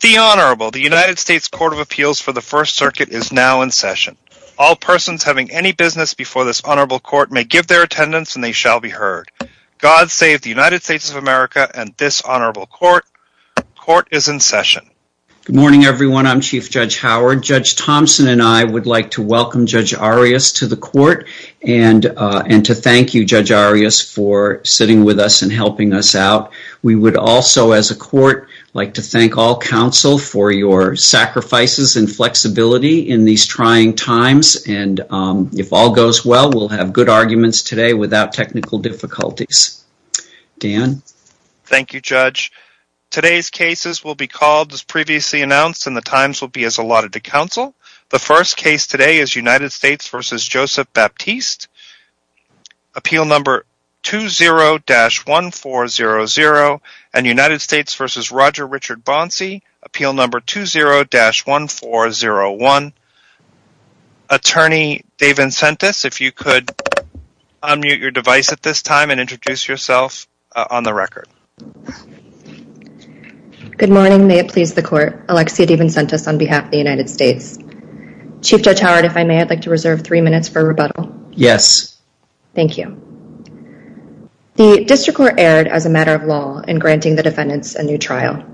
The Honorable, the United States Court of Appeals for the First Circuit is now in session. All persons having any business before this honorable court may give their attendance and they shall be heard. God save the United States of America and this honorable court. Court is in session. Good morning everyone. I'm Chief Judge Howard. Judge Thompson and I would like to welcome Judge Arias to the court and to thank you Judge Arias for sitting with us and helping us out. We would also as a court like to thank all counsel for your sacrifices and flexibility in these trying times and if all goes well we'll have good arguments today without technical difficulties. Dan. Thank you Judge. Today's cases will be called as previously announced and the times will be as allotted to counsel. The first case today is United States v. Joseph Baptiste. Appeal number 20-1400 and United States v. Roger Richard Bonci. Appeal number 20-1401. Attorney Dave Vincentis if you could unmute your device at this time and introduce yourself on the record. Good morning. May it please the court. Alexia Vincentis on behalf of the United States. Chief Judge Howard if I may I'd like to reserve three minutes for rebuttal. Yes. Thank you. The district court erred as a matter of law in granting the defendants a new trial.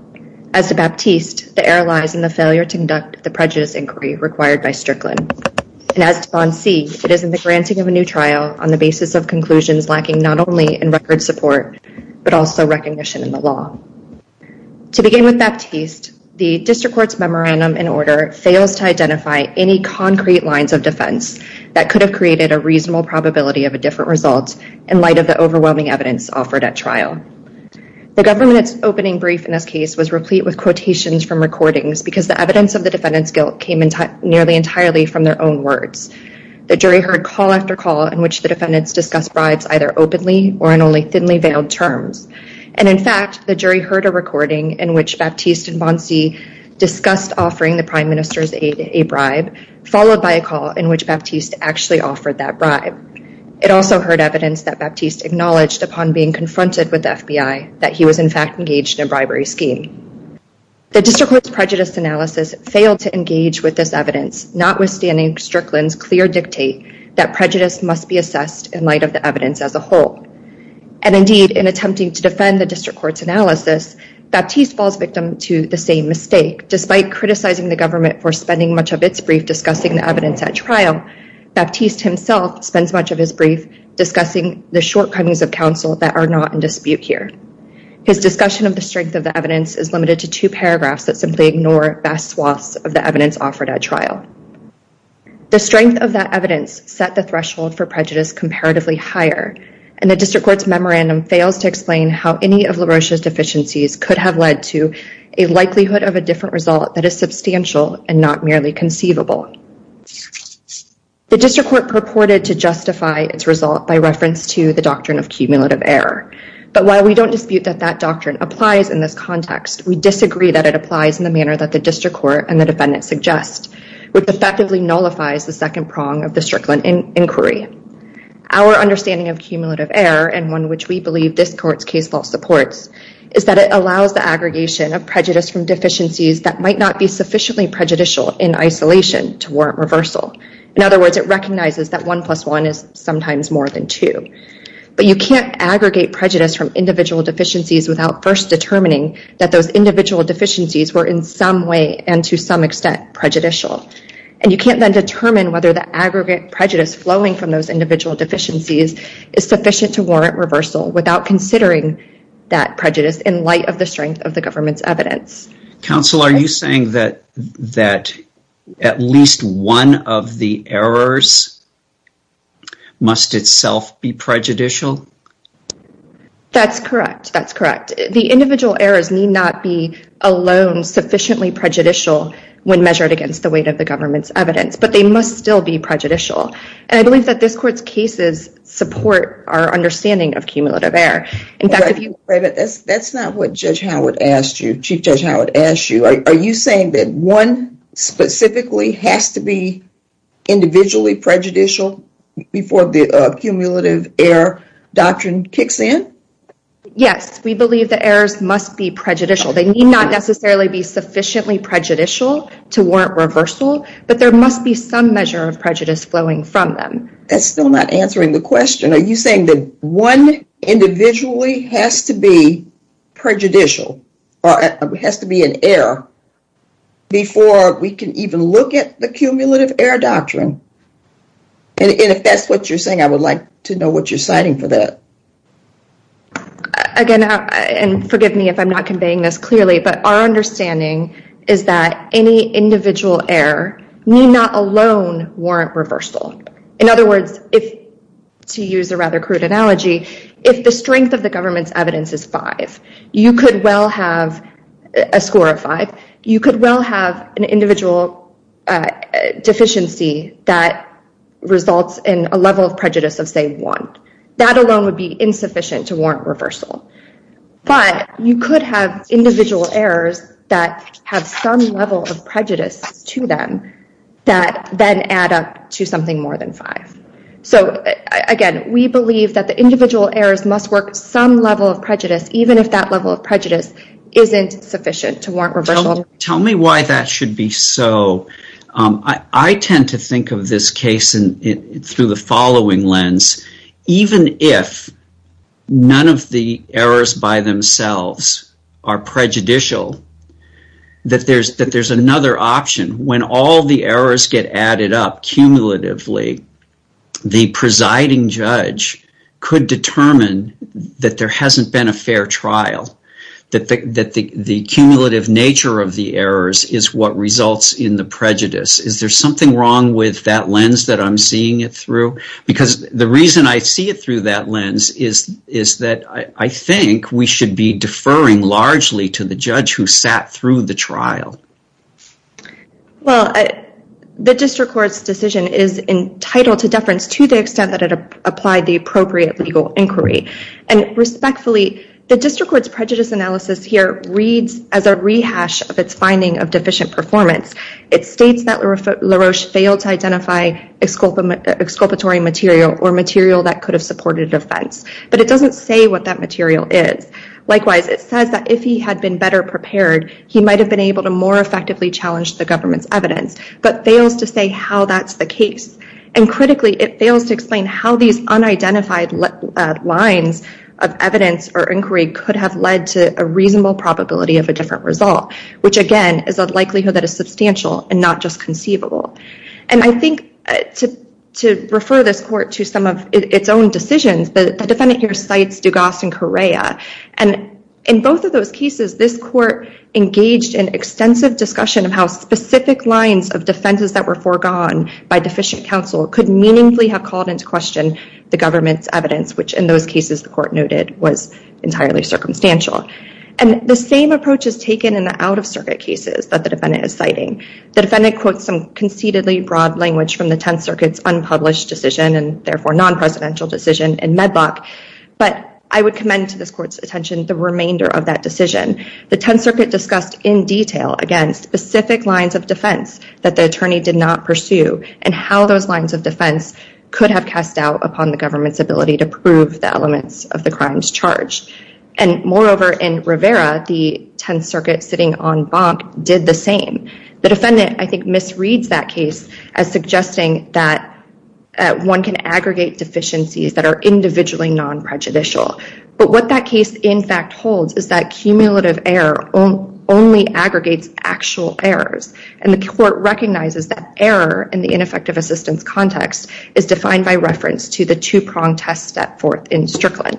As to Baptiste the error lies in the failure to conduct the prejudice inquiry required by Strickland and as to Bonci it is in the granting of a new trial on the basis of conclusions lacking not only in record support but also recognition in the law. To begin with Baptiste the district court's memorandum in order fails to identify any concrete lines of defense that could have created a reasonable probability of a different result in light of the overwhelming evidence offered at trial. The government's opening brief in this case was replete with quotations from recordings because the evidence of the defendant's guilt came nearly entirely from their own words. The jury heard call after call in which the defendants discussed bribes either openly or in only thinly veiled terms and in fact the jury heard a recording in which Baptiste and Bonci discussed offering the prime minister's aid a bribe followed by a call in which Baptiste actually offered that bribe. It also heard evidence that Baptiste acknowledged upon being confronted with the FBI that he was in fact engaged in a bribery scheme. The district court's prejudice analysis failed to engage with this evidence notwithstanding Strickland's clear dictate that prejudice must be assessed in light of the evidence as a whole. And indeed in attempting to defend the district court's analysis Baptiste falls victim to the same mistake despite criticizing the government for spending much of its brief discussing the evidence at trial Baptiste himself spends much of his brief discussing the shortcomings of counsel that are not in dispute here. His discussion of the strength of the evidence is limited to two paragraphs that simply ignore vast swaths of the evidence offered at trial. The strength of that evidence set the threshold for prejudice comparatively higher and the district court's memorandum fails to explain how any of LaRoche's deficiencies could have led to a likelihood of a different result that is substantial and not merely conceivable. The district court purported to justify its result by reference to the doctrine of cumulative error but while we don't dispute that that doctrine applies in this context we disagree that it applies in the manner that the district court and the defendant suggest which effectively nullifies the second prong of the Strickland inquiry. Our understanding of cumulative error and one which we believe this court's case law supports is that it allows the aggregation of prejudice from deficiencies that might not be sufficiently prejudicial in isolation to warrant reversal. In other words it recognizes that 1 plus 1 is sometimes more than 2. But you can't aggregate prejudice from individual deficiencies without first determining that those individual deficiencies were in some way and to some extent prejudicial and you can't then determine whether the aggregate prejudice flowing from those individual deficiencies is sufficient to warrant reversal without considering that prejudice in light of the government's evidence. Counsel are you saying that that at least one of the errors must itself be prejudicial? That's correct that's correct the individual errors need not be alone sufficiently prejudicial when measured against the weight of the government's evidence but they must still be prejudicial and I believe that this court's cases support our understanding of cumulative error. That's not what Judge Howard asked you Chief Judge Howard asked you. Are you saying that one specifically has to be individually prejudicial before the cumulative error doctrine kicks in? Yes we believe the errors must be prejudicial they need not necessarily be sufficiently prejudicial to warrant reversal but there must be some measure of prejudice flowing from them. That's still not answering the question. One individually has to be prejudicial or it has to be an error before we can even look at the cumulative error doctrine and if that's what you're saying I would like to know what you're citing for that. Again and forgive me if I'm not conveying this clearly but our understanding is that any individual error need not alone warrant reversal. In other words if to use a rather crude analogy if the strength of the government's evidence is five you could well have a score of five you could well have an individual deficiency that results in a level of prejudice of say one. That alone would be insufficient to warrant reversal but you could have individual errors that have some level of prejudice to them that then add up to something more than five. So again we believe that the individual errors must work some level of prejudice even if that level of prejudice isn't sufficient to warrant reversal. Tell me why that should be so. I tend to think of this case through the following lens. Even if none of the errors by themselves are prejudicial that there's another option when all the errors get added up cumulatively the presiding judge could determine that there hasn't been a fair trial. That the cumulative nature of the errors is what results in the prejudice. Is there something wrong with that lens that I'm seeing it through? Because the reason I see it through that lens is that I think we should be deferring largely to the judge who sat through the trial. Well the district court's decision is entitled to deference to the extent that it applied the appropriate legal inquiry and respectfully the district court's prejudice analysis here reads as a rehash of its finding of deficient performance. It states that LaRoche failed to identify exculpatory material or material that could have supported offense but it doesn't say what that material is. Likewise it says that if he had been better prepared he might have been able to more effectively challenge the government's evidence but fails to say how that's the case and critically it fails to explain how these unidentified lines of evidence or inquiry could have led to a reasonable probability of a different result which again is a likelihood that is substantial and not just conceivable. And I think to refer this court to some of its own decisions the defendant here cites Dugas and this court engaged in extensive discussion of how specific lines of defenses that were foregone by deficient counsel could meaningfully have called into question the government's evidence which in those cases the court noted was entirely circumstantial. And the same approach is taken in the out-of-circuit cases that the defendant is citing. The defendant quotes some conceitedly broad language from the Tenth Circuit's unpublished decision and therefore non-presidential decision in Medlock but I would commend to this court's attention the Tenth Circuit discussed in detail against specific lines of defense that the attorney did not pursue and how those lines of defense could have cast doubt upon the government's ability to prove the elements of the crimes charged. And moreover in Rivera the Tenth Circuit sitting on bonk did the same. The defendant I think misreads that case as suggesting that one can aggregate deficiencies that are individually non-prejudicial but what that case in fact holds is that cumulative error only aggregates actual errors and the court recognizes that error in the ineffective assistance context is defined by reference to the two-pronged test step forth in Strickland.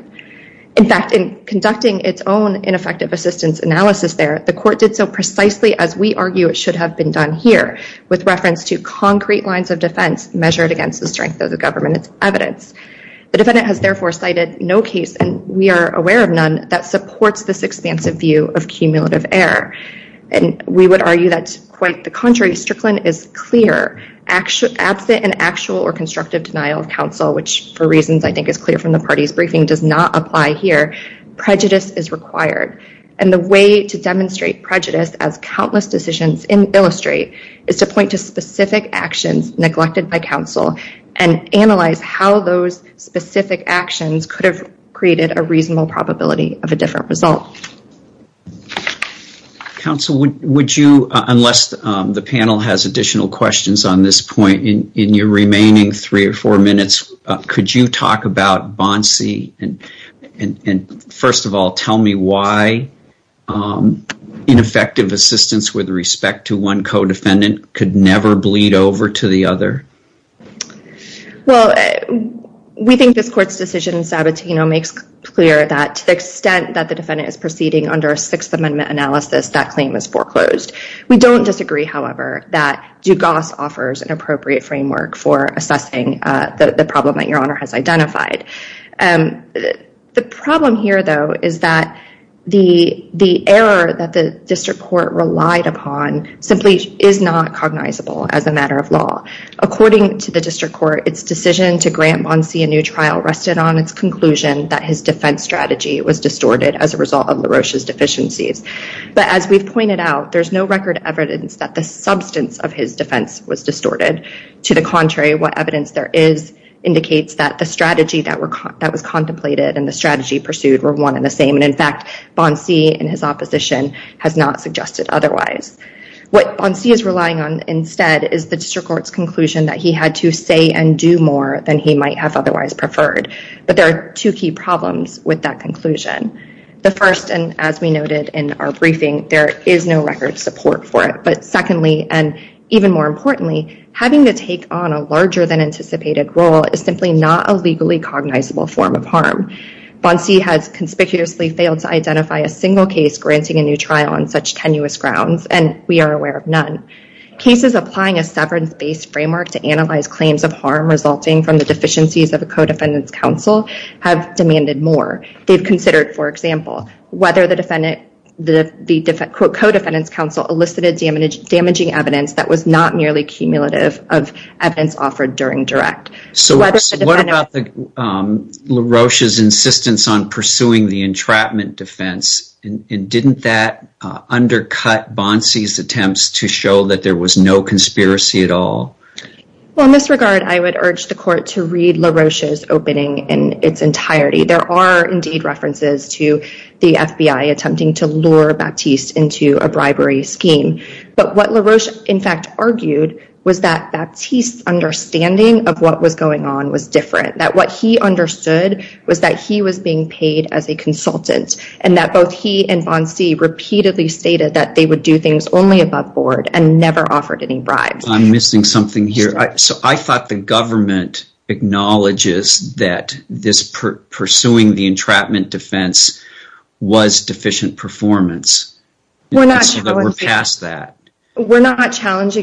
In fact in conducting its own ineffective assistance analysis there the court did so precisely as we argue it should have been done here with reference to concrete lines of defense measured against the strength of the government's evidence. The defendant has therefore cited no case and we are aware of none that supports this expansive view of cumulative error and we would argue that quite the contrary Strickland is clear actually absent an actual or constructive denial of counsel which for reasons I think is clear from the party's briefing does not apply here. Prejudice is required and the way to demonstrate prejudice as countless decisions illustrate is to point to specific actions neglected by counsel and analyze how those specific actions could have created a reasonable probability of a different result. Counsel would you unless the panel has additional questions on this point in your remaining three or four minutes could you talk about Bonsey and first of all tell me why ineffective assistance with respect to one co-defendant could never bleed over to the other? Well we think this court's decision in Sabatino makes clear that to the extent that the defendant is proceeding under a Sixth Amendment analysis that claim is foreclosed. We don't disagree however that Dugas offers an appropriate framework for assessing the problem that your honor has identified. The problem here though is that the the error that the district court relied upon simply is not cognizable as a matter of law. According to the district court its decision to grant Bonsey a new trial rested on its conclusion that his defense strategy was distorted as a result of LaRoche's deficiencies but as we've pointed out there's no record evidence that the substance of his defense was distorted. To the contrary what evidence there is indicates that the strategy that was contemplated and the strategy pursued were one in the same and in fact Bonsey and his opposition has not suggested otherwise. What Bonsey is relying on instead is the district court's conclusion that he had to say and do more than he might have otherwise preferred but there are two key problems with that conclusion. The first and as we noted in our briefing there is no record support for it but secondly and even more importantly having to take on a larger than cognizable form of harm. Bonsey has conspicuously failed to identify a single case granting a new trial on such tenuous grounds and we are aware of none. Cases applying a severance based framework to analyze claims of harm resulting from the deficiencies of a co-defendants counsel have demanded more. They've considered for example whether the defendant the different co-defendants counsel elicited damaging evidence that was not merely cumulative of evidence offered during direct. So what about LaRoche's insistence on pursuing the entrapment defense and didn't that undercut Bonsey's attempts to show that there was no conspiracy at all? Well in this regard I would urge the court to read LaRoche's opening in its entirety. There are indeed references to the FBI attempting to lure Baptiste into a bribery scheme but what LaRoche in fact argued was that Baptiste's understanding of what was going on was different. That what he understood was that he was being paid as a consultant and that both he and Bonsey repeatedly stated that they would do things only above board and never offered any bribes. I'm missing something here. So I thought the government acknowledges that this pursuing the entrapment defense was deficient performance. We're not challenging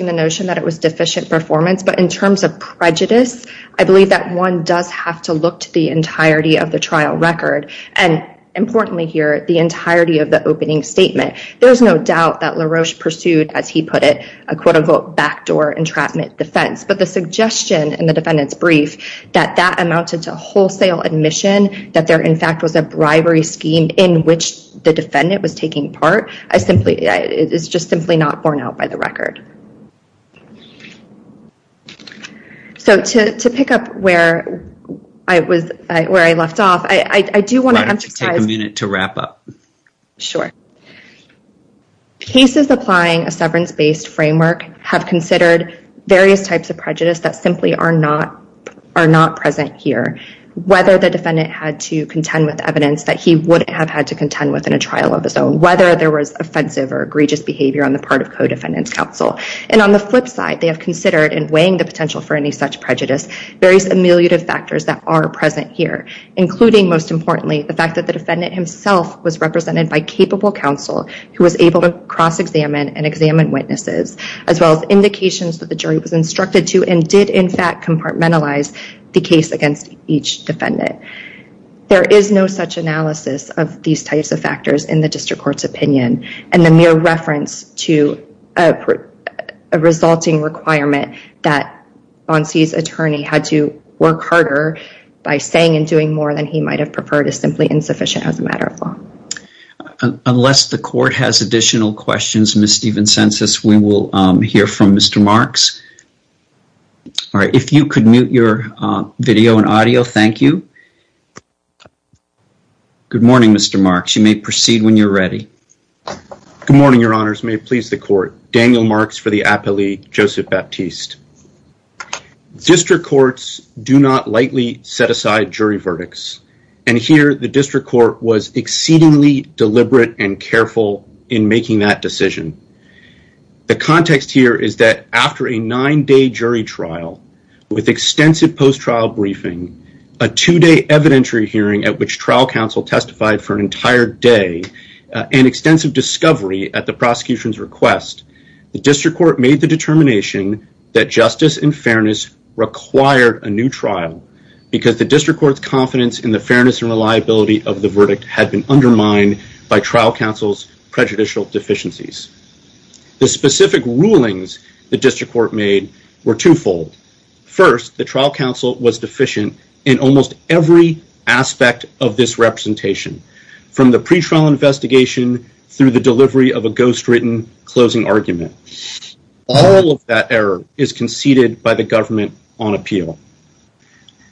the notion that it was deficient performance but in terms of prejudice I believe that one does have to look to the entirety of the trial record and importantly here the entirety of the opening statement. There's no doubt that LaRoche pursued as he put it a quote-unquote backdoor entrapment defense but the suggestion in the defendant's brief that that amounted to wholesale admission that there in fact was a bribery scheme in which the defendant was taking part is just simply not borne out by the record. So to pick up where I left off, I do want to emphasize cases applying a severance-based framework have considered various types of prejudice that simply are not are not present here. Whether the defendant had to contend with evidence that he would have had to contend with in a trial of his own, whether there was offensive or egregious behavior on the part of co-defendants counsel and on the flip side they have considered and weighing the potential for any such prejudice various ameliorative factors that are present here including most importantly the fact that the defendant himself was represented by capable counsel who was able to cross-examine and examine witnesses as well as indications that the jury was instructed to and did in fact compartmentalize the case against each defendant. There is no such analysis of these types of factors in the district court's opinion and the mere reference to a resulting requirement that Bonsey's attorney had to work harder by saying and doing more than he might have preferred is simply insufficient as a matter of law. Unless the court has additional questions, Ms. Steven-Census, we will hear from Mr. Marks. All right, if you could mute your video and audio, thank you. Good morning, Mr. Marks. You may proceed when you're ready. Good morning, your honors. May it please the court. Daniel Marks for the appellee, Joseph Baptiste. District courts do not lightly set aside jury verdicts and here the district court was exceedingly deliberate and careful in making that decision. The context here is that after a nine-day jury trial with extensive post-trial briefing, a two-day evidentiary hearing at which trial counsel testified for an entire day, and extensive discovery at the prosecution's request, the district court made the determination that justice and fairness required a new trial because the district court's confidence in the The specific rulings the district court made were twofold. First, the trial counsel was deficient in almost every aspect of this representation from the pre-trial investigation through the delivery of a ghost-written closing argument. All of that error is conceded by the government on appeal.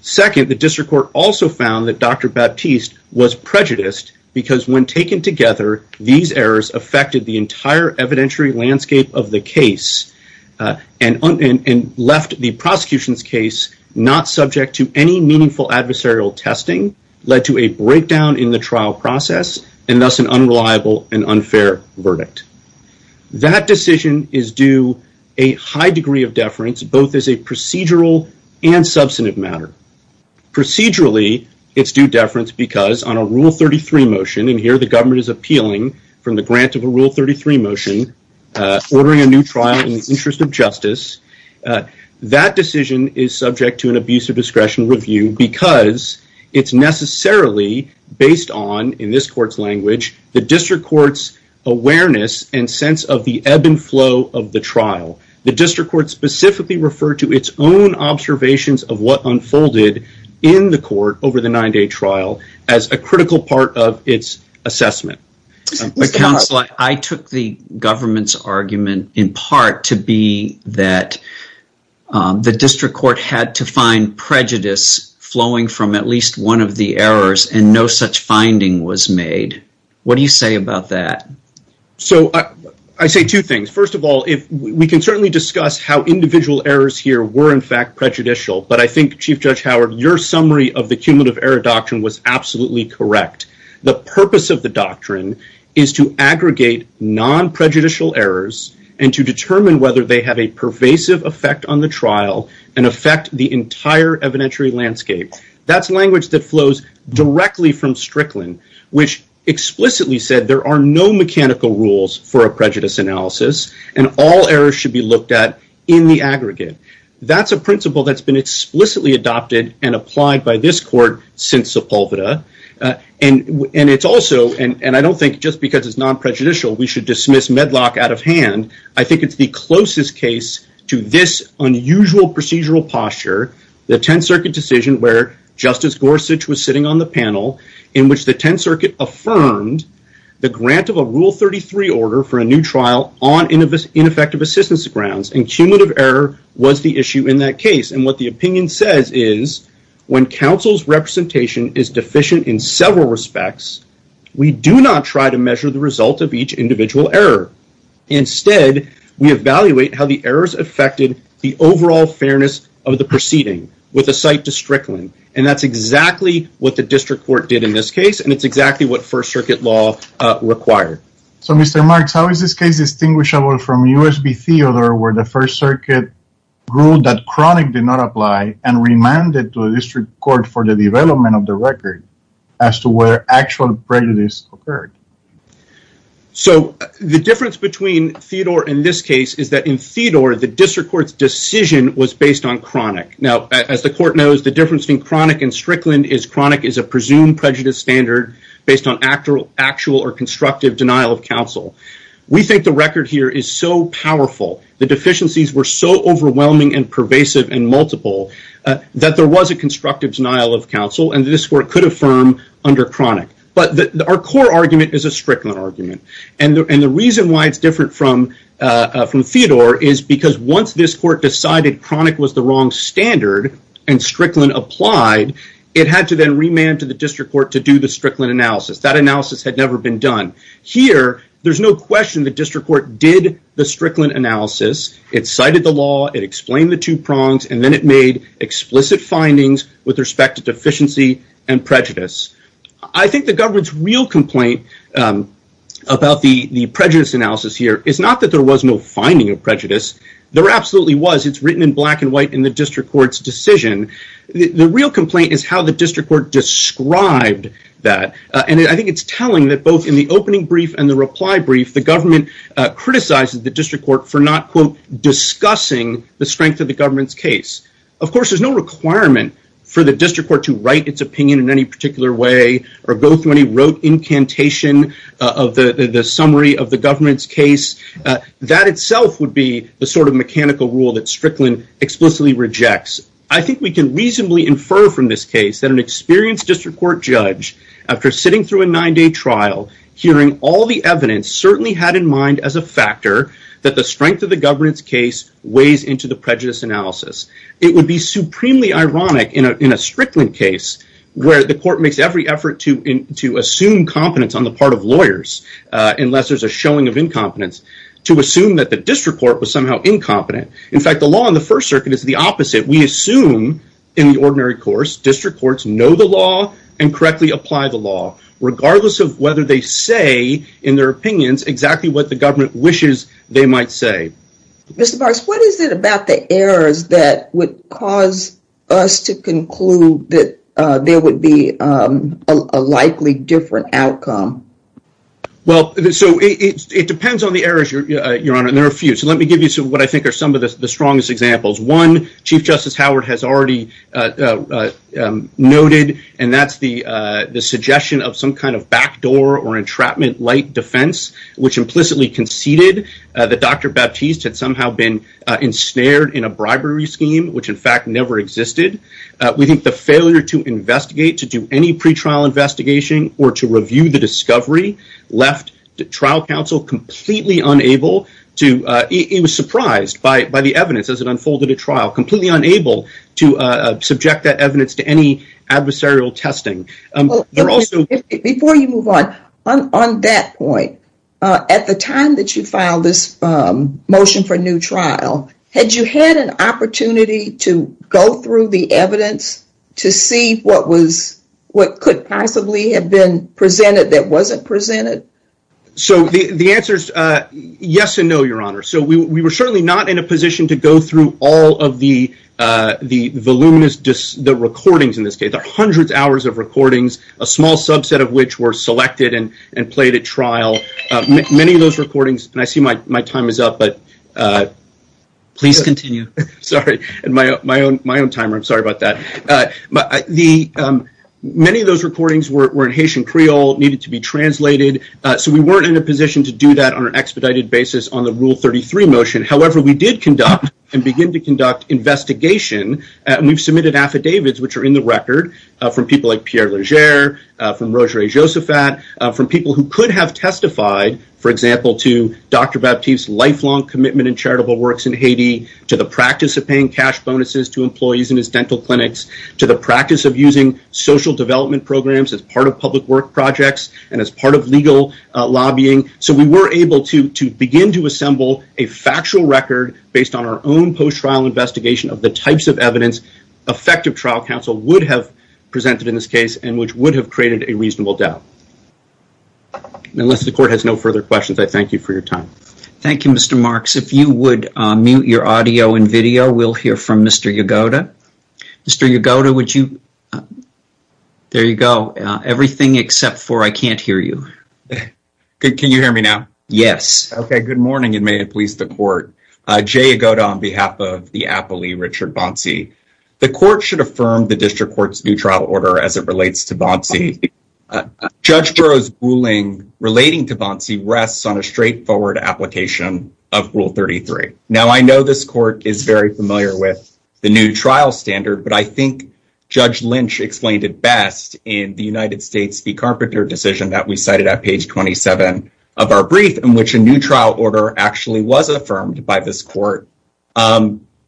Second, the district court also found that Dr. Baptiste was prejudiced because when evidentiary landscape of the case and left the prosecution's case not subject to any meaningful adversarial testing led to a breakdown in the trial process and thus an unreliable and unfair verdict. That decision is due a high degree of deference both as a procedural and substantive matter. Procedurally, it's due deference because on a Rule 33 motion, and here the government is Rule 33 motion, ordering a new trial in the interest of justice. That decision is subject to an abuse of discretion review because it's necessarily based on, in this court's language, the district court's awareness and sense of the ebb and flow of the trial. The district court specifically referred to its own observations of what unfolded in the court over the nine-day trial as a critical part of its assessment. Counselor, I took the government's argument in part to be that the district court had to find prejudice flowing from at least one of the errors and no such finding was made. What do you say about that? I say two things. First of all, we can certainly discuss how individual errors here were, in fact, prejudicial, but I think, Chief Judge Howard, your summary of the cumulative error doctrine was absolutely correct. The purpose of the doctrine is to aggregate non-prejudicial errors and to determine whether they have a pervasive effect on the trial and affect the entire evidentiary landscape. That's language that flows directly from Strickland, which explicitly said there are no mechanical rules for a prejudice analysis and all errors should be looked at in the aggregate. That's a principle that's been explicitly adopted and applied by this court since Sepulveda. I don't think just because it's non-prejudicial we should dismiss Medlock out of hand. I think it's the closest case to this unusual procedural posture, the Tenth Circuit decision where Justice Gorsuch was sitting on the panel in which the Tenth Circuit affirmed the grant of a Rule 33 order for a new trial on ineffective assistance grounds and cumulative error was the issue in that case. And what the opinion says is when counsel's representation is deficient in several respects, we do not try to measure the result of each individual error. Instead, we evaluate how the errors affected the overall fairness of the proceeding with a site to Strickland. And that's exactly what the district court did in this case and it's exactly what First Circuit law required. So, Mr. Marks, how is this case distinguishable from U.S. v. Theodore where the First Circuit ruled that chronic did not apply and remanded to the district court for the development of the record as to where actual prejudice occurred? So, the difference between Theodore and this case is that in Theodore, the district court's decision was based on chronic. Now, as the court knows, the difference between chronic and Strickland is chronic is a presumed prejudice standard based on actual or constructive denial of counsel. We think the record here is so powerful. The deficiencies were so overwhelming and pervasive and multiple that there was a constructive denial of counsel and the district court could affirm under chronic. But our core argument is a Strickland argument. And the reason why it's different from Theodore is because once this court decided chronic was the wrong standard and Strickland applied, it had to then remand to the district court to do the Strickland analysis. That analysis had never been done. Here, there's no question the district court did the Strickland analysis. It cited the law, it explained the two prongs, and then it made explicit findings with respect to deficiency and prejudice. I think the government's real complaint about the prejudice analysis here is not that there was no finding of prejudice. There absolutely was. It's written in black and white in the district court's decision. The real complaint is how the district court described that. And I think it's telling that both in the opening brief and the reply brief, the government criticized the district court for not discussing the strength of the government's case. Of course, there's no requirement for the district court to write its opinion in any particular way or go through any rote incantation of the summary of the government's case. That itself would be the sort of mechanical rule that Strickland explicitly rejects. I think we can reasonably infer from this case that an experienced district court judge, after sitting through a nine-day trial, hearing all the evidence, certainly had in mind as a factor that the strength of the government's case weighs into the prejudice analysis. It would be supremely ironic in a Strickland case where the court makes every effort to assume competence on the part of lawyers, unless there's a showing of incompetence, to assume that the district court was somehow incompetent. In fact, the law in the First Circuit is the opposite. We assume in the ordinary course district courts know the law and correctly apply the law, regardless of whether they say in their opinions exactly what the government wishes they might say. Mr. Barks, what is it about the errors that would cause us to conclude that there would be a likely different outcome? Well, so it depends on the errors, Your Honor, and there are a few. So let me give you what I think are some of the strongest examples. One, Chief Justice Howard has already noted, and that's the suggestion of some kind of backdoor or entrapment-like defense, which implicitly conceded that Dr. Baptiste had somehow been to do any pretrial investigation or to review the discovery, left the trial counsel completely unable to, he was surprised by the evidence as it unfolded at trial, completely unable to subject that evidence to any adversarial testing. Before you move on, on that point, at the time that you filed this motion for new trial, had you had an opportunity to go through the evidence to see what could possibly have been presented that wasn't presented? So the answer is yes and no, Your Honor. So we were certainly not in a position to go through all of the voluminous, the recordings in this case, the hundreds of hours of recordings, a small subset of which were selected and played at trial. Many of those recordings, and I see my time is up, but please continue. Sorry, my own timer, I'm sorry about that. Many of those recordings were in Haitian Creole, needed to be translated, so we weren't in a position to do that on an expedited basis on the Rule 33 motion. However, we did conduct and begin to conduct investigation, and we've submitted affidavits, which are in the record, from people like Pierre Leger, from Roger A. Josaphat, from people who could have testified, for example, to Dr. Baptiste's lifelong commitment in charitable works in Haiti, to the practice of paying cash bonuses to employees in his dental clinics, to the practice of using social development programs as part of public work projects, and as part of legal lobbying. So we were able to begin to assemble a factual record based on our own post-trial investigation of the types of evidence effective trial counsel would have presented in this case, and which would have created a reasonable doubt. Unless the Court has no further questions, I thank you for your time. Thank you, Mr. Marks. If you would mute your audio and video, we'll hear from Mr. Yagoda. Mr. Yagoda, would you... There you go. Everything except for, I can't hear you. Can you hear me now? Yes. Okay, good morning, and may it please the Court. Jay Yagoda on behalf of the appellee, Richard Bonci, the Court should affirm the District Court's new trial order as it relates to Bonci. Judge Girod's ruling relating to Bonci rests on a straightforward application of Rule 33. Now, I know this Court is very familiar with the new trial standard, but I think Judge Lynch explained it best in the United States v. Carpenter decision that we cited at page 27 of our brief, in which a new trial order actually was affirmed by this Court.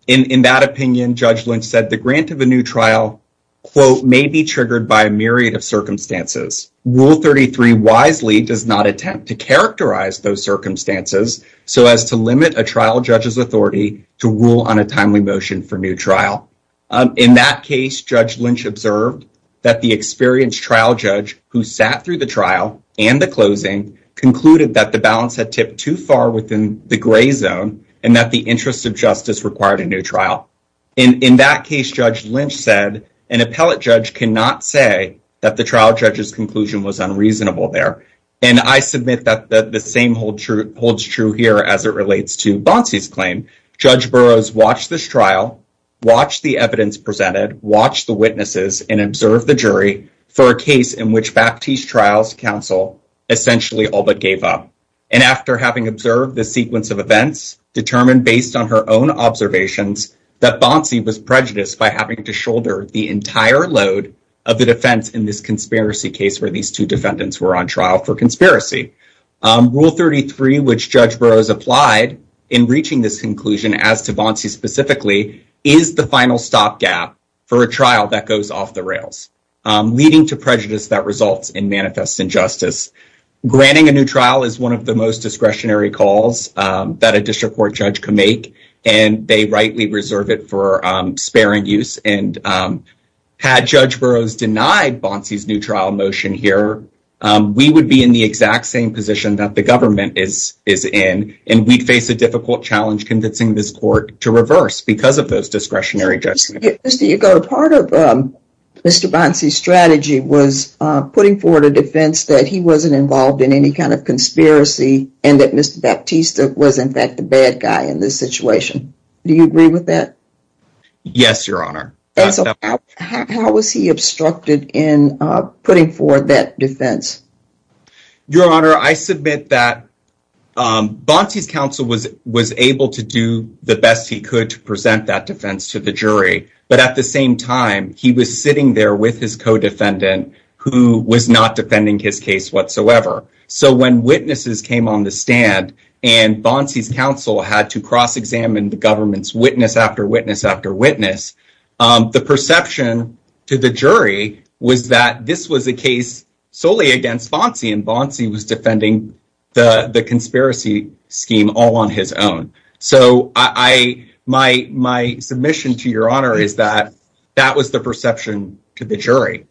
In that opinion, Judge Lynch said the grant of a new trial, quote, may be triggered by a myriad of circumstances. Rule 33 wisely does not attempt to characterize those circumstances so as to limit a trial judge's authority to rule on a timely motion for new trial. In that case, Judge Lynch observed that the experienced trial judge who sat through the trial and the closing concluded that the balance had tipped too far within the gray zone and that the interest of justice required a new trial. In that case, Judge Lynch said an appellate judge cannot say that the trial judge's conclusion was unreasonable there. And I submit that the same holds true here as it relates to Bonci's claim. Judge Burroughs watched this trial, watched the evidence presented, watched the witnesses, and observed the jury for a case in which Baptiste Trial's counsel essentially all but gave up. And after having observed the sequence of events, determined based on her own observations that Bonci was prejudiced by having to shoulder the entire load of the defense in this conspiracy case where these two defendants were on trial for conspiracy. Rule 33, which Judge Burroughs applied in reaching this conclusion as to Bonci specifically, is the final stop gap for a trial that goes off the rails, leading to prejudice that results in manifest injustice. Granting a new trial is one of the most discretionary calls that a district court judge can make, and they rightly reserve it for spare and use. And had Judge Burroughs denied Bonci's new trial motion here, we would be in the exact same position that the government is in, and we'd face a difficult challenge convincing this court to reverse because of those discretionary judgments. Mr. Yagoda, part of Mr. Bonci's strategy was putting forward a defense that he wasn't involved in any kind of conspiracy and that Mr. Baptiste was in fact the bad guy in this situation. Do you agree with that? Yes, Your Honor. And so how was he obstructed in putting forward that defense? Your Honor, I submit that Bonci's counsel was able to do the best he could to present that defense to the jury, but at the same time he was sitting there with his co-defendant who was not defending his case whatsoever. So when witnesses came on the stand and Bonci's counsel had to cross-examine the government's witness after witness after witness, the perception to the jury was that this was a case solely against Bonci and the conspiracy scheme all on his own. So my submission to Your Honor is that that was the perception to the jury.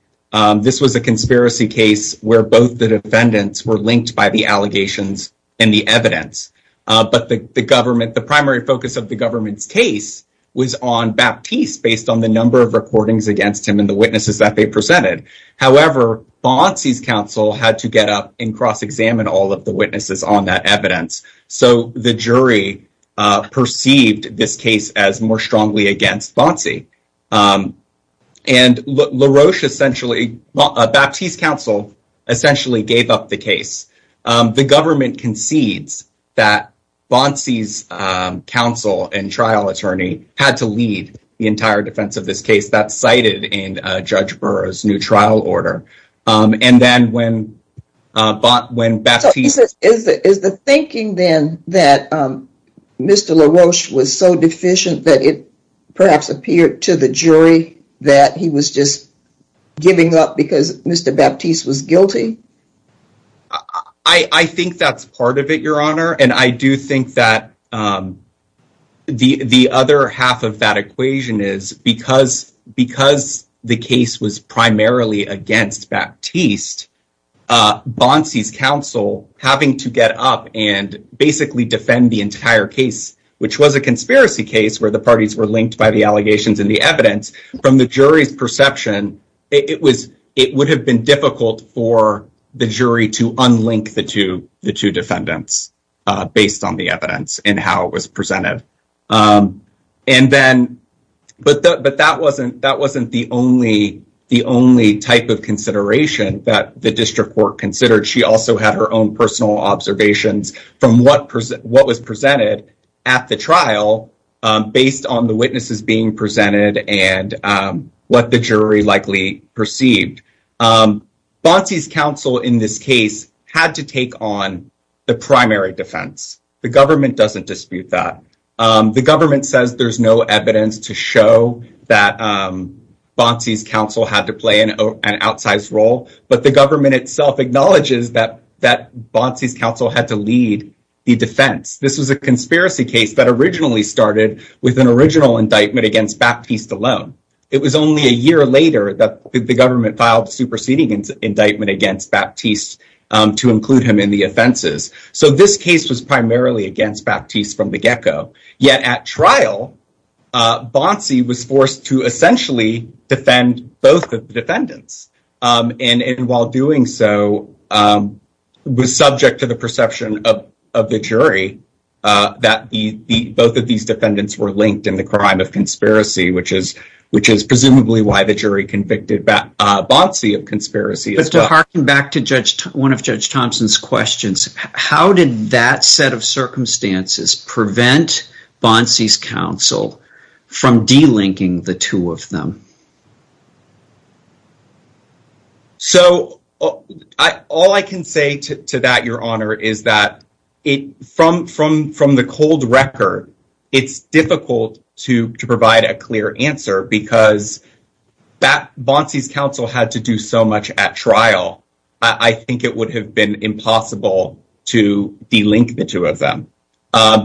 This was a conspiracy case where both the defendants were linked by the allegations and the evidence, but the government, the primary focus of the government's case was on Baptiste based on the number of recordings against him and the witnesses that presented. However, Bonci's counsel had to get up and cross-examine all of the witnesses on that evidence. So the jury perceived this case as more strongly against Bonci. And LaRoche essentially, Baptiste's counsel essentially gave up the case. The government concedes that Bonci's counsel and new trial order. And then when Baptiste... Is the thinking then that Mr. LaRoche was so deficient that it perhaps appeared to the jury that he was just giving up because Mr. Baptiste was guilty? I think that's part of it, Your Honor. And I do think that the other half of that was primarily against Baptiste, Bonci's counsel having to get up and basically defend the entire case, which was a conspiracy case where the parties were linked by the allegations and the evidence. From the jury's perception, it would have been difficult for the jury to unlink the two defendants based on the evidence and how it was presented. But that wasn't the only type of consideration that the district court considered. She also had her own personal observations from what was presented at the trial based on the witnesses being presented and what the jury likely perceived. Bonci's counsel in this case had to take on the primary defense. The government doesn't dispute that. The government says there's no evidence to show that Bonci's counsel had to play an outsized role, but the government itself acknowledges that Bonci's counsel had to lead the defense. This was a conspiracy case that originally started with an original indictment against Baptiste alone. It was only a year later that the government filed a superseding indictment against Baptiste to include him in the offenses. So this case was primarily against Baptiste from the gecko. Yet at trial, Bonci was forced to essentially defend both of the defendants and while doing so was subject to the perception of the jury that both of these defendants were of conspiracy, which is presumably why the jury convicted Bonci of conspiracy. But to harken back to one of Judge Thompson's questions, how did that set of circumstances prevent Bonci's counsel from de-linking the two of them? So all I can say to that, Your Honor, is that from the cold record, it's difficult to provide a clear answer because Bonci's counsel had to do so much at trial. I think it would have been impossible to de-link the two of them.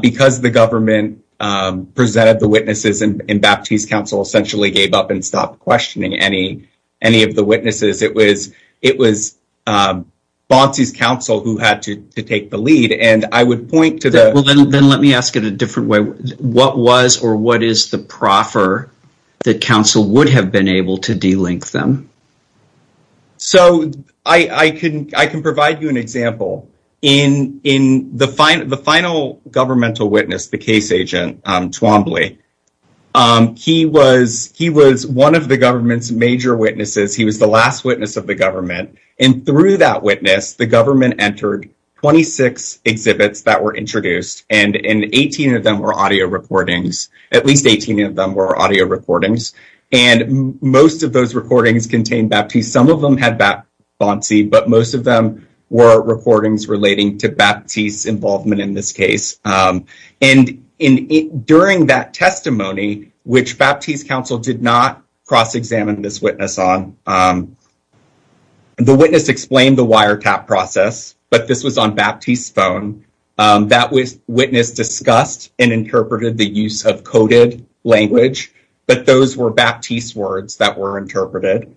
Because the government presented the witnesses and Baptiste's counsel essentially gave up and stopped questioning any of the witnesses. It was Bonci's counsel who had to take the lead. Then let me ask it a different way. What was or what is the proffer that counsel would have been able to de-link them? So I can provide you an example. In the final governmental witness, the case agent Twombly, he was one of the government's major witnesses. He was the last witness of the government. And through that witness, the government entered 26 exhibits that were introduced and 18 of them were audio recordings. At least 18 of them were audio recordings. And most of those recordings contained Baptiste. Some of them had Bonci, but most of them were recordings relating to Baptiste's involvement in this case. And during that testimony, which Baptiste's counsel did not cross-examine this witness on, the witness explained the wiretap process, but this was on Baptiste's phone. That witness discussed and interpreted the use of coded language, but those were Baptiste's words that were interpreted.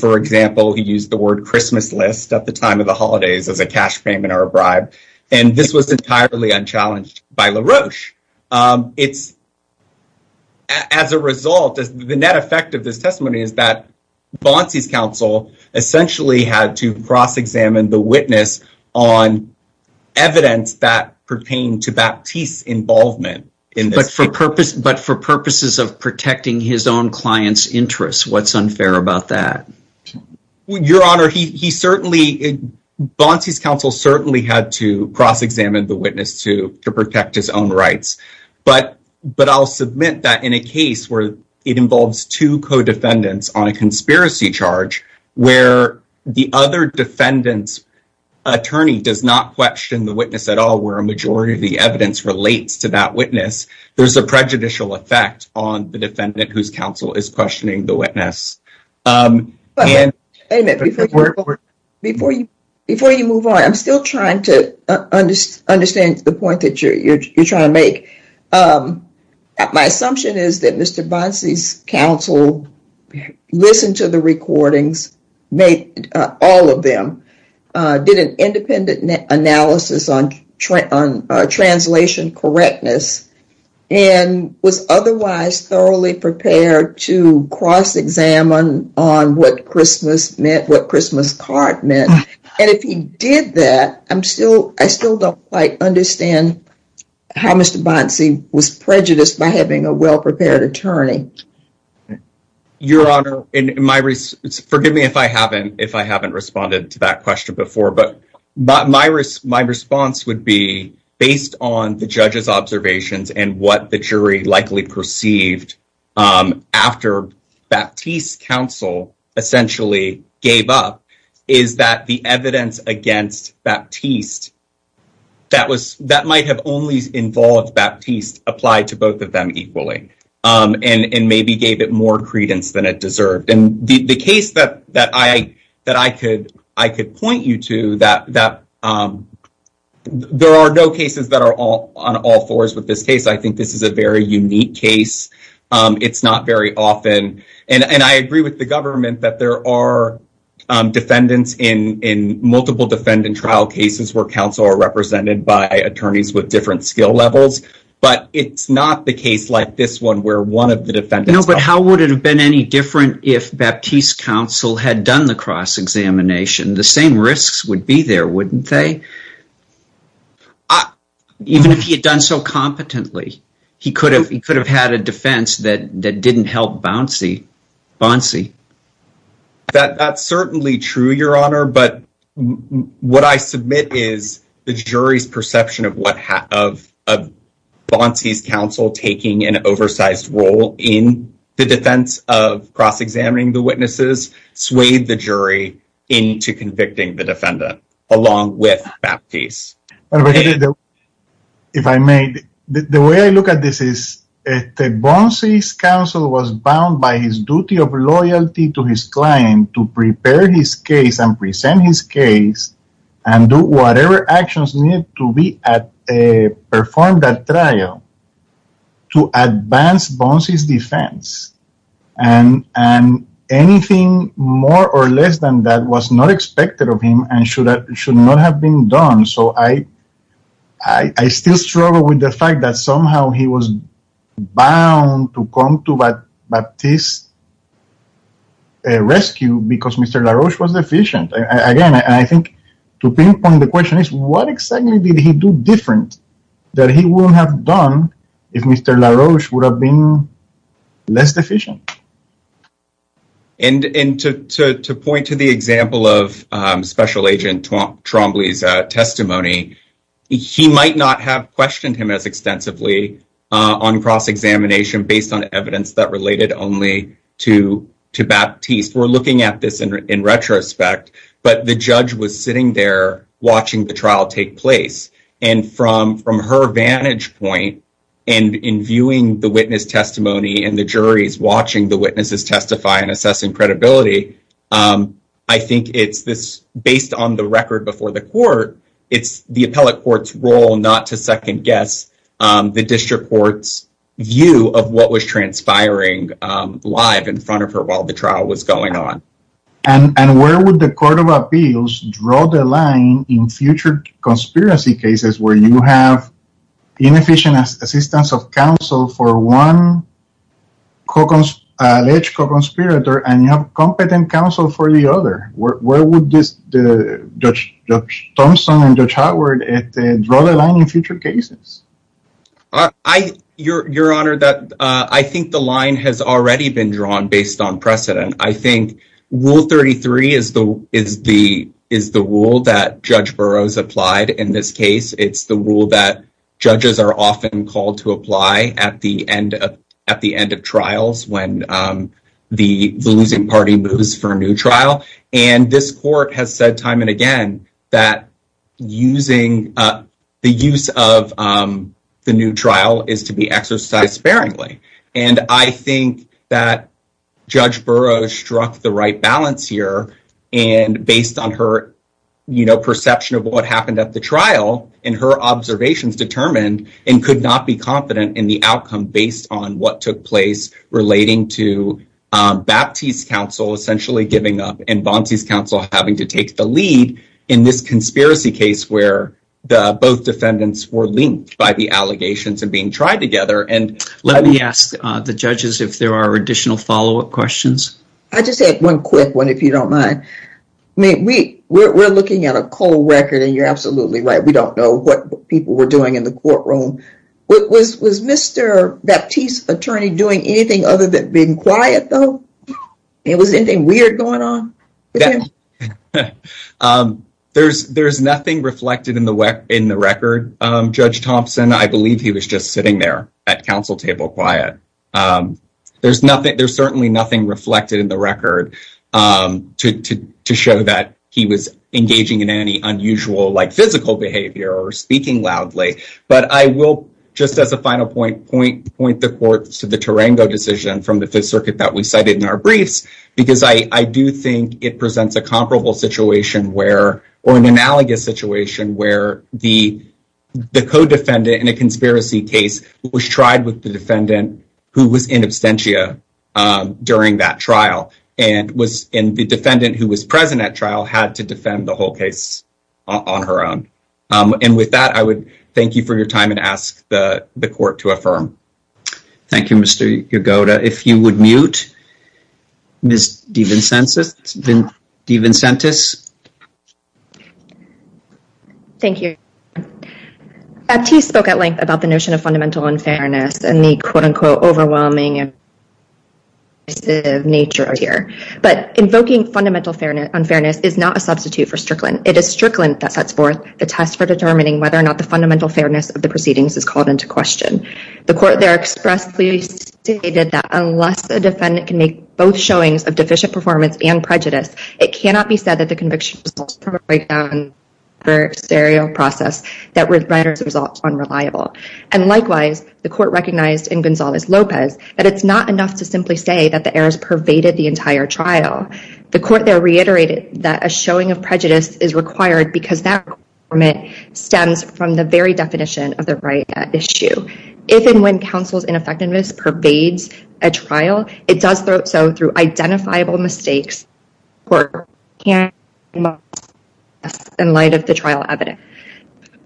For example, he used the word Christmas list at the time of the holidays as a cash payment or a bribe. And this was entirely unchallenged by LaRoche. As a result, the net effect of this testimony is that Bonci's counsel essentially had to cross-examine the witness on evidence that pertained to Baptiste's involvement. But for purposes of protecting his own client's interests, what's unfair about that? Your Honor, Bonci's counsel certainly had to cross-examine the witness to protect his own rights. But I'll submit that in a case where it involves two co-defendants on a conspiracy charge, where the other defendant's attorney does not question the witness at all, where a majority of the evidence relates to that witness, there's a prejudicial effect on the defendant whose counsel is questioning the witness. Wait a minute. Before you move on, I'm still trying to understand the point that you're trying to make. My assumption is that Mr. Bonci's counsel listened to the recordings, made all of them, did an independent analysis on translation correctness, and was otherwise thoroughly prepared to cross-examine on what Christmas meant, what Christmas card meant. And if he did that, I still don't quite understand how Mr. Bonci was prejudiced by having a well-prepared attorney. Your Honor, forgive me if I haven't responded to that question before, but my response would be, based on the judge's observations and what the jury likely perceived after Baptiste's counsel essentially gave up, is that the evidence against Baptiste that might have only involved Baptiste applied to both of them equally and maybe gave it more credence than it deserved. And the case that I could point you to, that there are no cases that are on all fours with this case. I think this is a very unique case. It's not very often. And I agree with the government that there are defendants in multiple defendant trial cases where counsel are represented by attorneys with different skill levels, but it's not the case like this one where one of the defendants... No, but how would it have been any different if Baptiste's counsel had done the cross-examination? The same risks would be there, wouldn't they? Even if he had done so competently, he could have had a defense that didn't help Bonci. Bonci? That's certainly true, Your Honor, but what I submit is the jury's perception of Bonci's counsel taking an oversized role in the defense of cross-examining the witnesses swayed the jury into convicting the defendant along with Baptiste. If I may, the way I look at this is that Bonci's counsel was bound by his duty of loyalty to his client to prepare his case and present his case and do whatever actions needed to perform that trial to advance Bonci's defense. And anything more or less than that was not expected of him and should not have been done. So I still struggle with the fact that he was bound to come to Baptiste's rescue because Mr. Laroche was deficient. Again, I think to pinpoint the question is what exactly did he do different that he wouldn't have done if Mr. Laroche would have been less deficient? And to point to the example of Special Agent Trombley's testimony, he might not have questioned him as extensively on cross-examination based on evidence that related only to Baptiste. We're looking at this in retrospect, but the judge was sitting there watching the trial take place. And from her vantage point and in viewing the witness testimony and the juries watching the witnesses testify and assessing credibility, I think it's this on the record before the court, it's the appellate court's role not to second-guess the district court's view of what was transpiring live in front of her while the trial was going on. And where would the Court of Appeals draw the line in future conspiracy cases where you have inefficient assistance of counsel for one alleged co-conspirator and you have competent counsel for the other? Where would Judge Thomson and Judge Howard draw the line in future cases? Your Honor, I think the line has already been drawn based on precedent. I think Rule 33 is the rule that Judge Burroughs applied in this case. It's the rule that judges are often called to apply at the end of trials when the losing party moves for a new trial. And this court has said time and again that the use of the new trial is to be exercised sparingly. And I think that Judge Burroughs struck the right balance here. And based on her perception of what happened at the trial and her observations determined and could not be confident in the outcome based on what took place relating to Baptiste's counsel essentially giving up and Bonci's counsel having to take the lead in this conspiracy case where the both defendants were linked by the allegations and being tried together. Let me ask the judges if there are additional follow-up questions. I just had one quick one if you don't mind. We're looking at a cold record and you're absolutely right. We don't know what people were doing in the courtroom. Was Mr. Baptiste's attorney doing anything other than being quiet though? Was anything weird going on with him? There's nothing reflected in the record, Judge Thompson. I believe he was just sitting there at counsel table quiet. There's certainly nothing reflected in the record to show that he was physical behavior or speaking loudly. But I will just as a final point point the court to the Tarango decision from the Fifth Circuit that we cited in our briefs because I do think it presents a comparable situation where or an analogous situation where the co-defendant in a conspiracy case was tried with the defendant who was in absentia during that trial. And the defendant who was present at trial had to defend the whole case on her own. And with that, I would thank you for your time and ask the court to affirm. Thank you, Mr. Yagoda. If you would mute Ms. DeVincentis. Thank you. Baptiste spoke at length about the notion of fundamental unfairness and the overwhelming nature of it here. But invoking fundamental unfairness is not a substitute for Strickland. It is Strickland that sets forth the test for determining whether or not the fundamental fairness of the proceedings is called into question. The court there expressly stated that unless a defendant can make both showings of deficient performance and prejudice, it cannot be said that the conviction was done for a serial process that would result unreliable. And likewise, the court recognized in Gonzalez-Lopez that it's not enough to simply say that the errors pervaded the entire trial. The court there reiterated that a showing of prejudice is required because that stems from the very definition of the right at issue. If and when counsel's ineffectiveness pervades a trial, it does so through identifiable mistakes.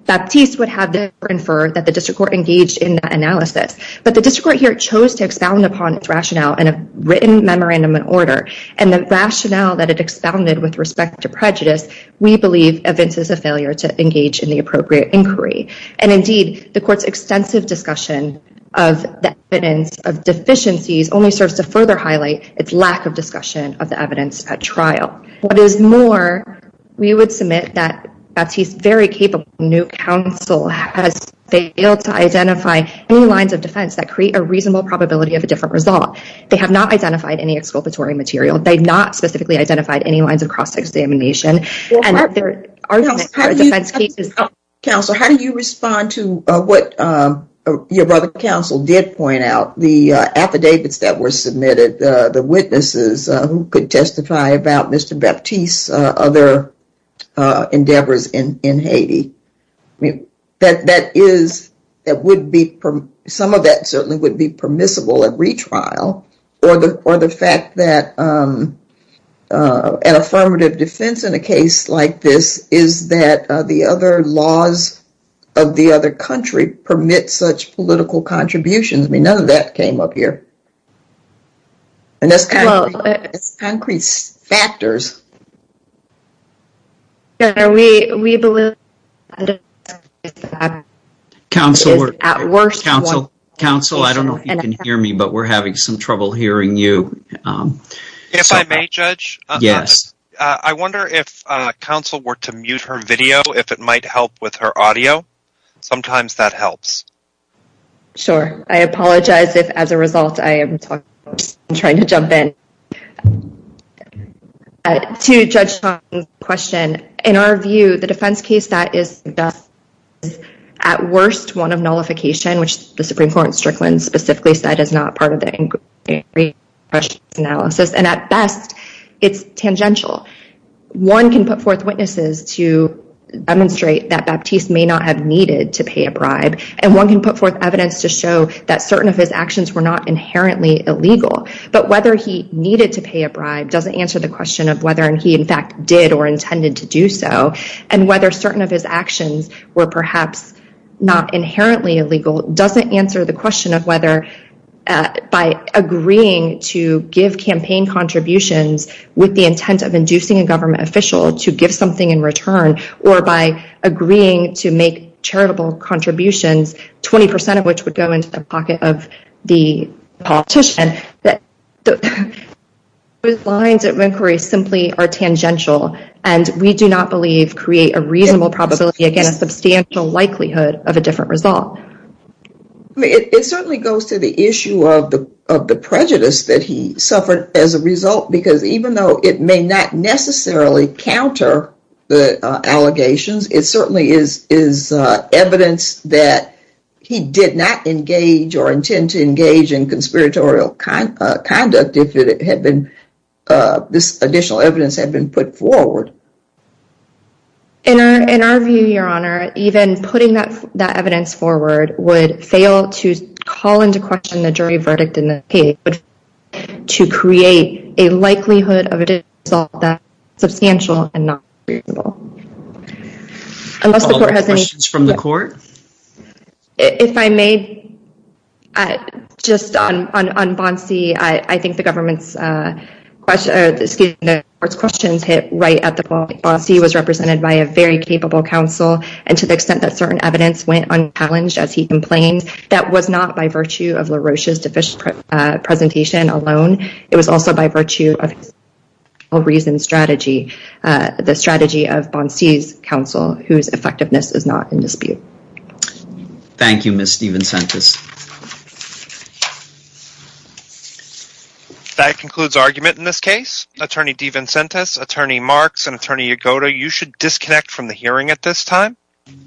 Baptiste would have inferred that the district court engaged in that analysis, but the district court here chose to expound upon its rationale in a written memorandum in order. And the rationale that it expounded with respect to prejudice, we believe evinces a failure to engage in the appropriate inquiry. And indeed, the court's extensive discussion of the evidence of deficiencies only serves to further highlight its lack of discussion of the evidence at trial. What is more, we would submit that Baptiste's very capable new counsel has failed to identify any lines of defense that create a reasonable probability of a different result. They have not identified any exculpatory material. They've not specifically identified any lines of cross-examination. Counsel, how do you respond to what your brother counsel did point out? The affidavits that were submitted, the witnesses who could testify about Mr. Baptiste's other endeavors in Haiti. I mean, that is, that would be, some of that certainly would be permissible at retrial, or the fact that an affirmative defense in a case like this is that the other laws of the other country permit such political contributions. I mean, none of that came up here. And that's kind of concrete factors. Counsel, I don't know if you can hear me, but we're having some trouble hearing you. If I may judge, I wonder if counsel were to mute her video, if it might help with her audio. Sometimes that helps. Sure. I apologize if as a result I am trying to jump in. To Judge Chong's question, in our view, the defense case that is at worst one of nullification, which the Supreme Court in Strickland specifically said is not part of the inquiry analysis, and at best it's tangential. One can put forth witnesses to demonstrate that Baptiste may not have needed to pay a bribe, and one can put forth evidence to show that certain of his actions were not inherently illegal. But whether he needed to pay a bribe doesn't answer the question of whether by agreeing to give campaign contributions with the intent of inducing a government official to give something in return, or by agreeing to make charitable contributions, 20% of which would go into the pocket of the politician, that those lines of inquiry simply and we do not believe create a reasonable probability against a substantial likelihood of a different result. It certainly goes to the issue of the prejudice that he suffered as a result, because even though it may not necessarily counter the allegations, it certainly is evidence that he did not engage or intend to engage in conspiratorial conduct if this additional evidence had been put forward. In our view, your honor, even putting that that evidence forward would fail to call into question the jury verdict in the case to create a likelihood of a result that substantial and not reasonable. Questions from the court? If I may, just on Bonsi, I think the government's questions hit right at the point. Bonsi was represented by a very capable counsel, and to the extent that certain evidence went unchallenged as he complained, that was not by virtue of LaRoche's deficient presentation alone. It was also by virtue of a reasoned strategy, the strategy of Bonsi's counsel, whose effectiveness is not in his. That concludes argument in this case. Attorney DeVincentis, Attorney Marks, and Attorney Yagoda, you should disconnect from the hearing at this time.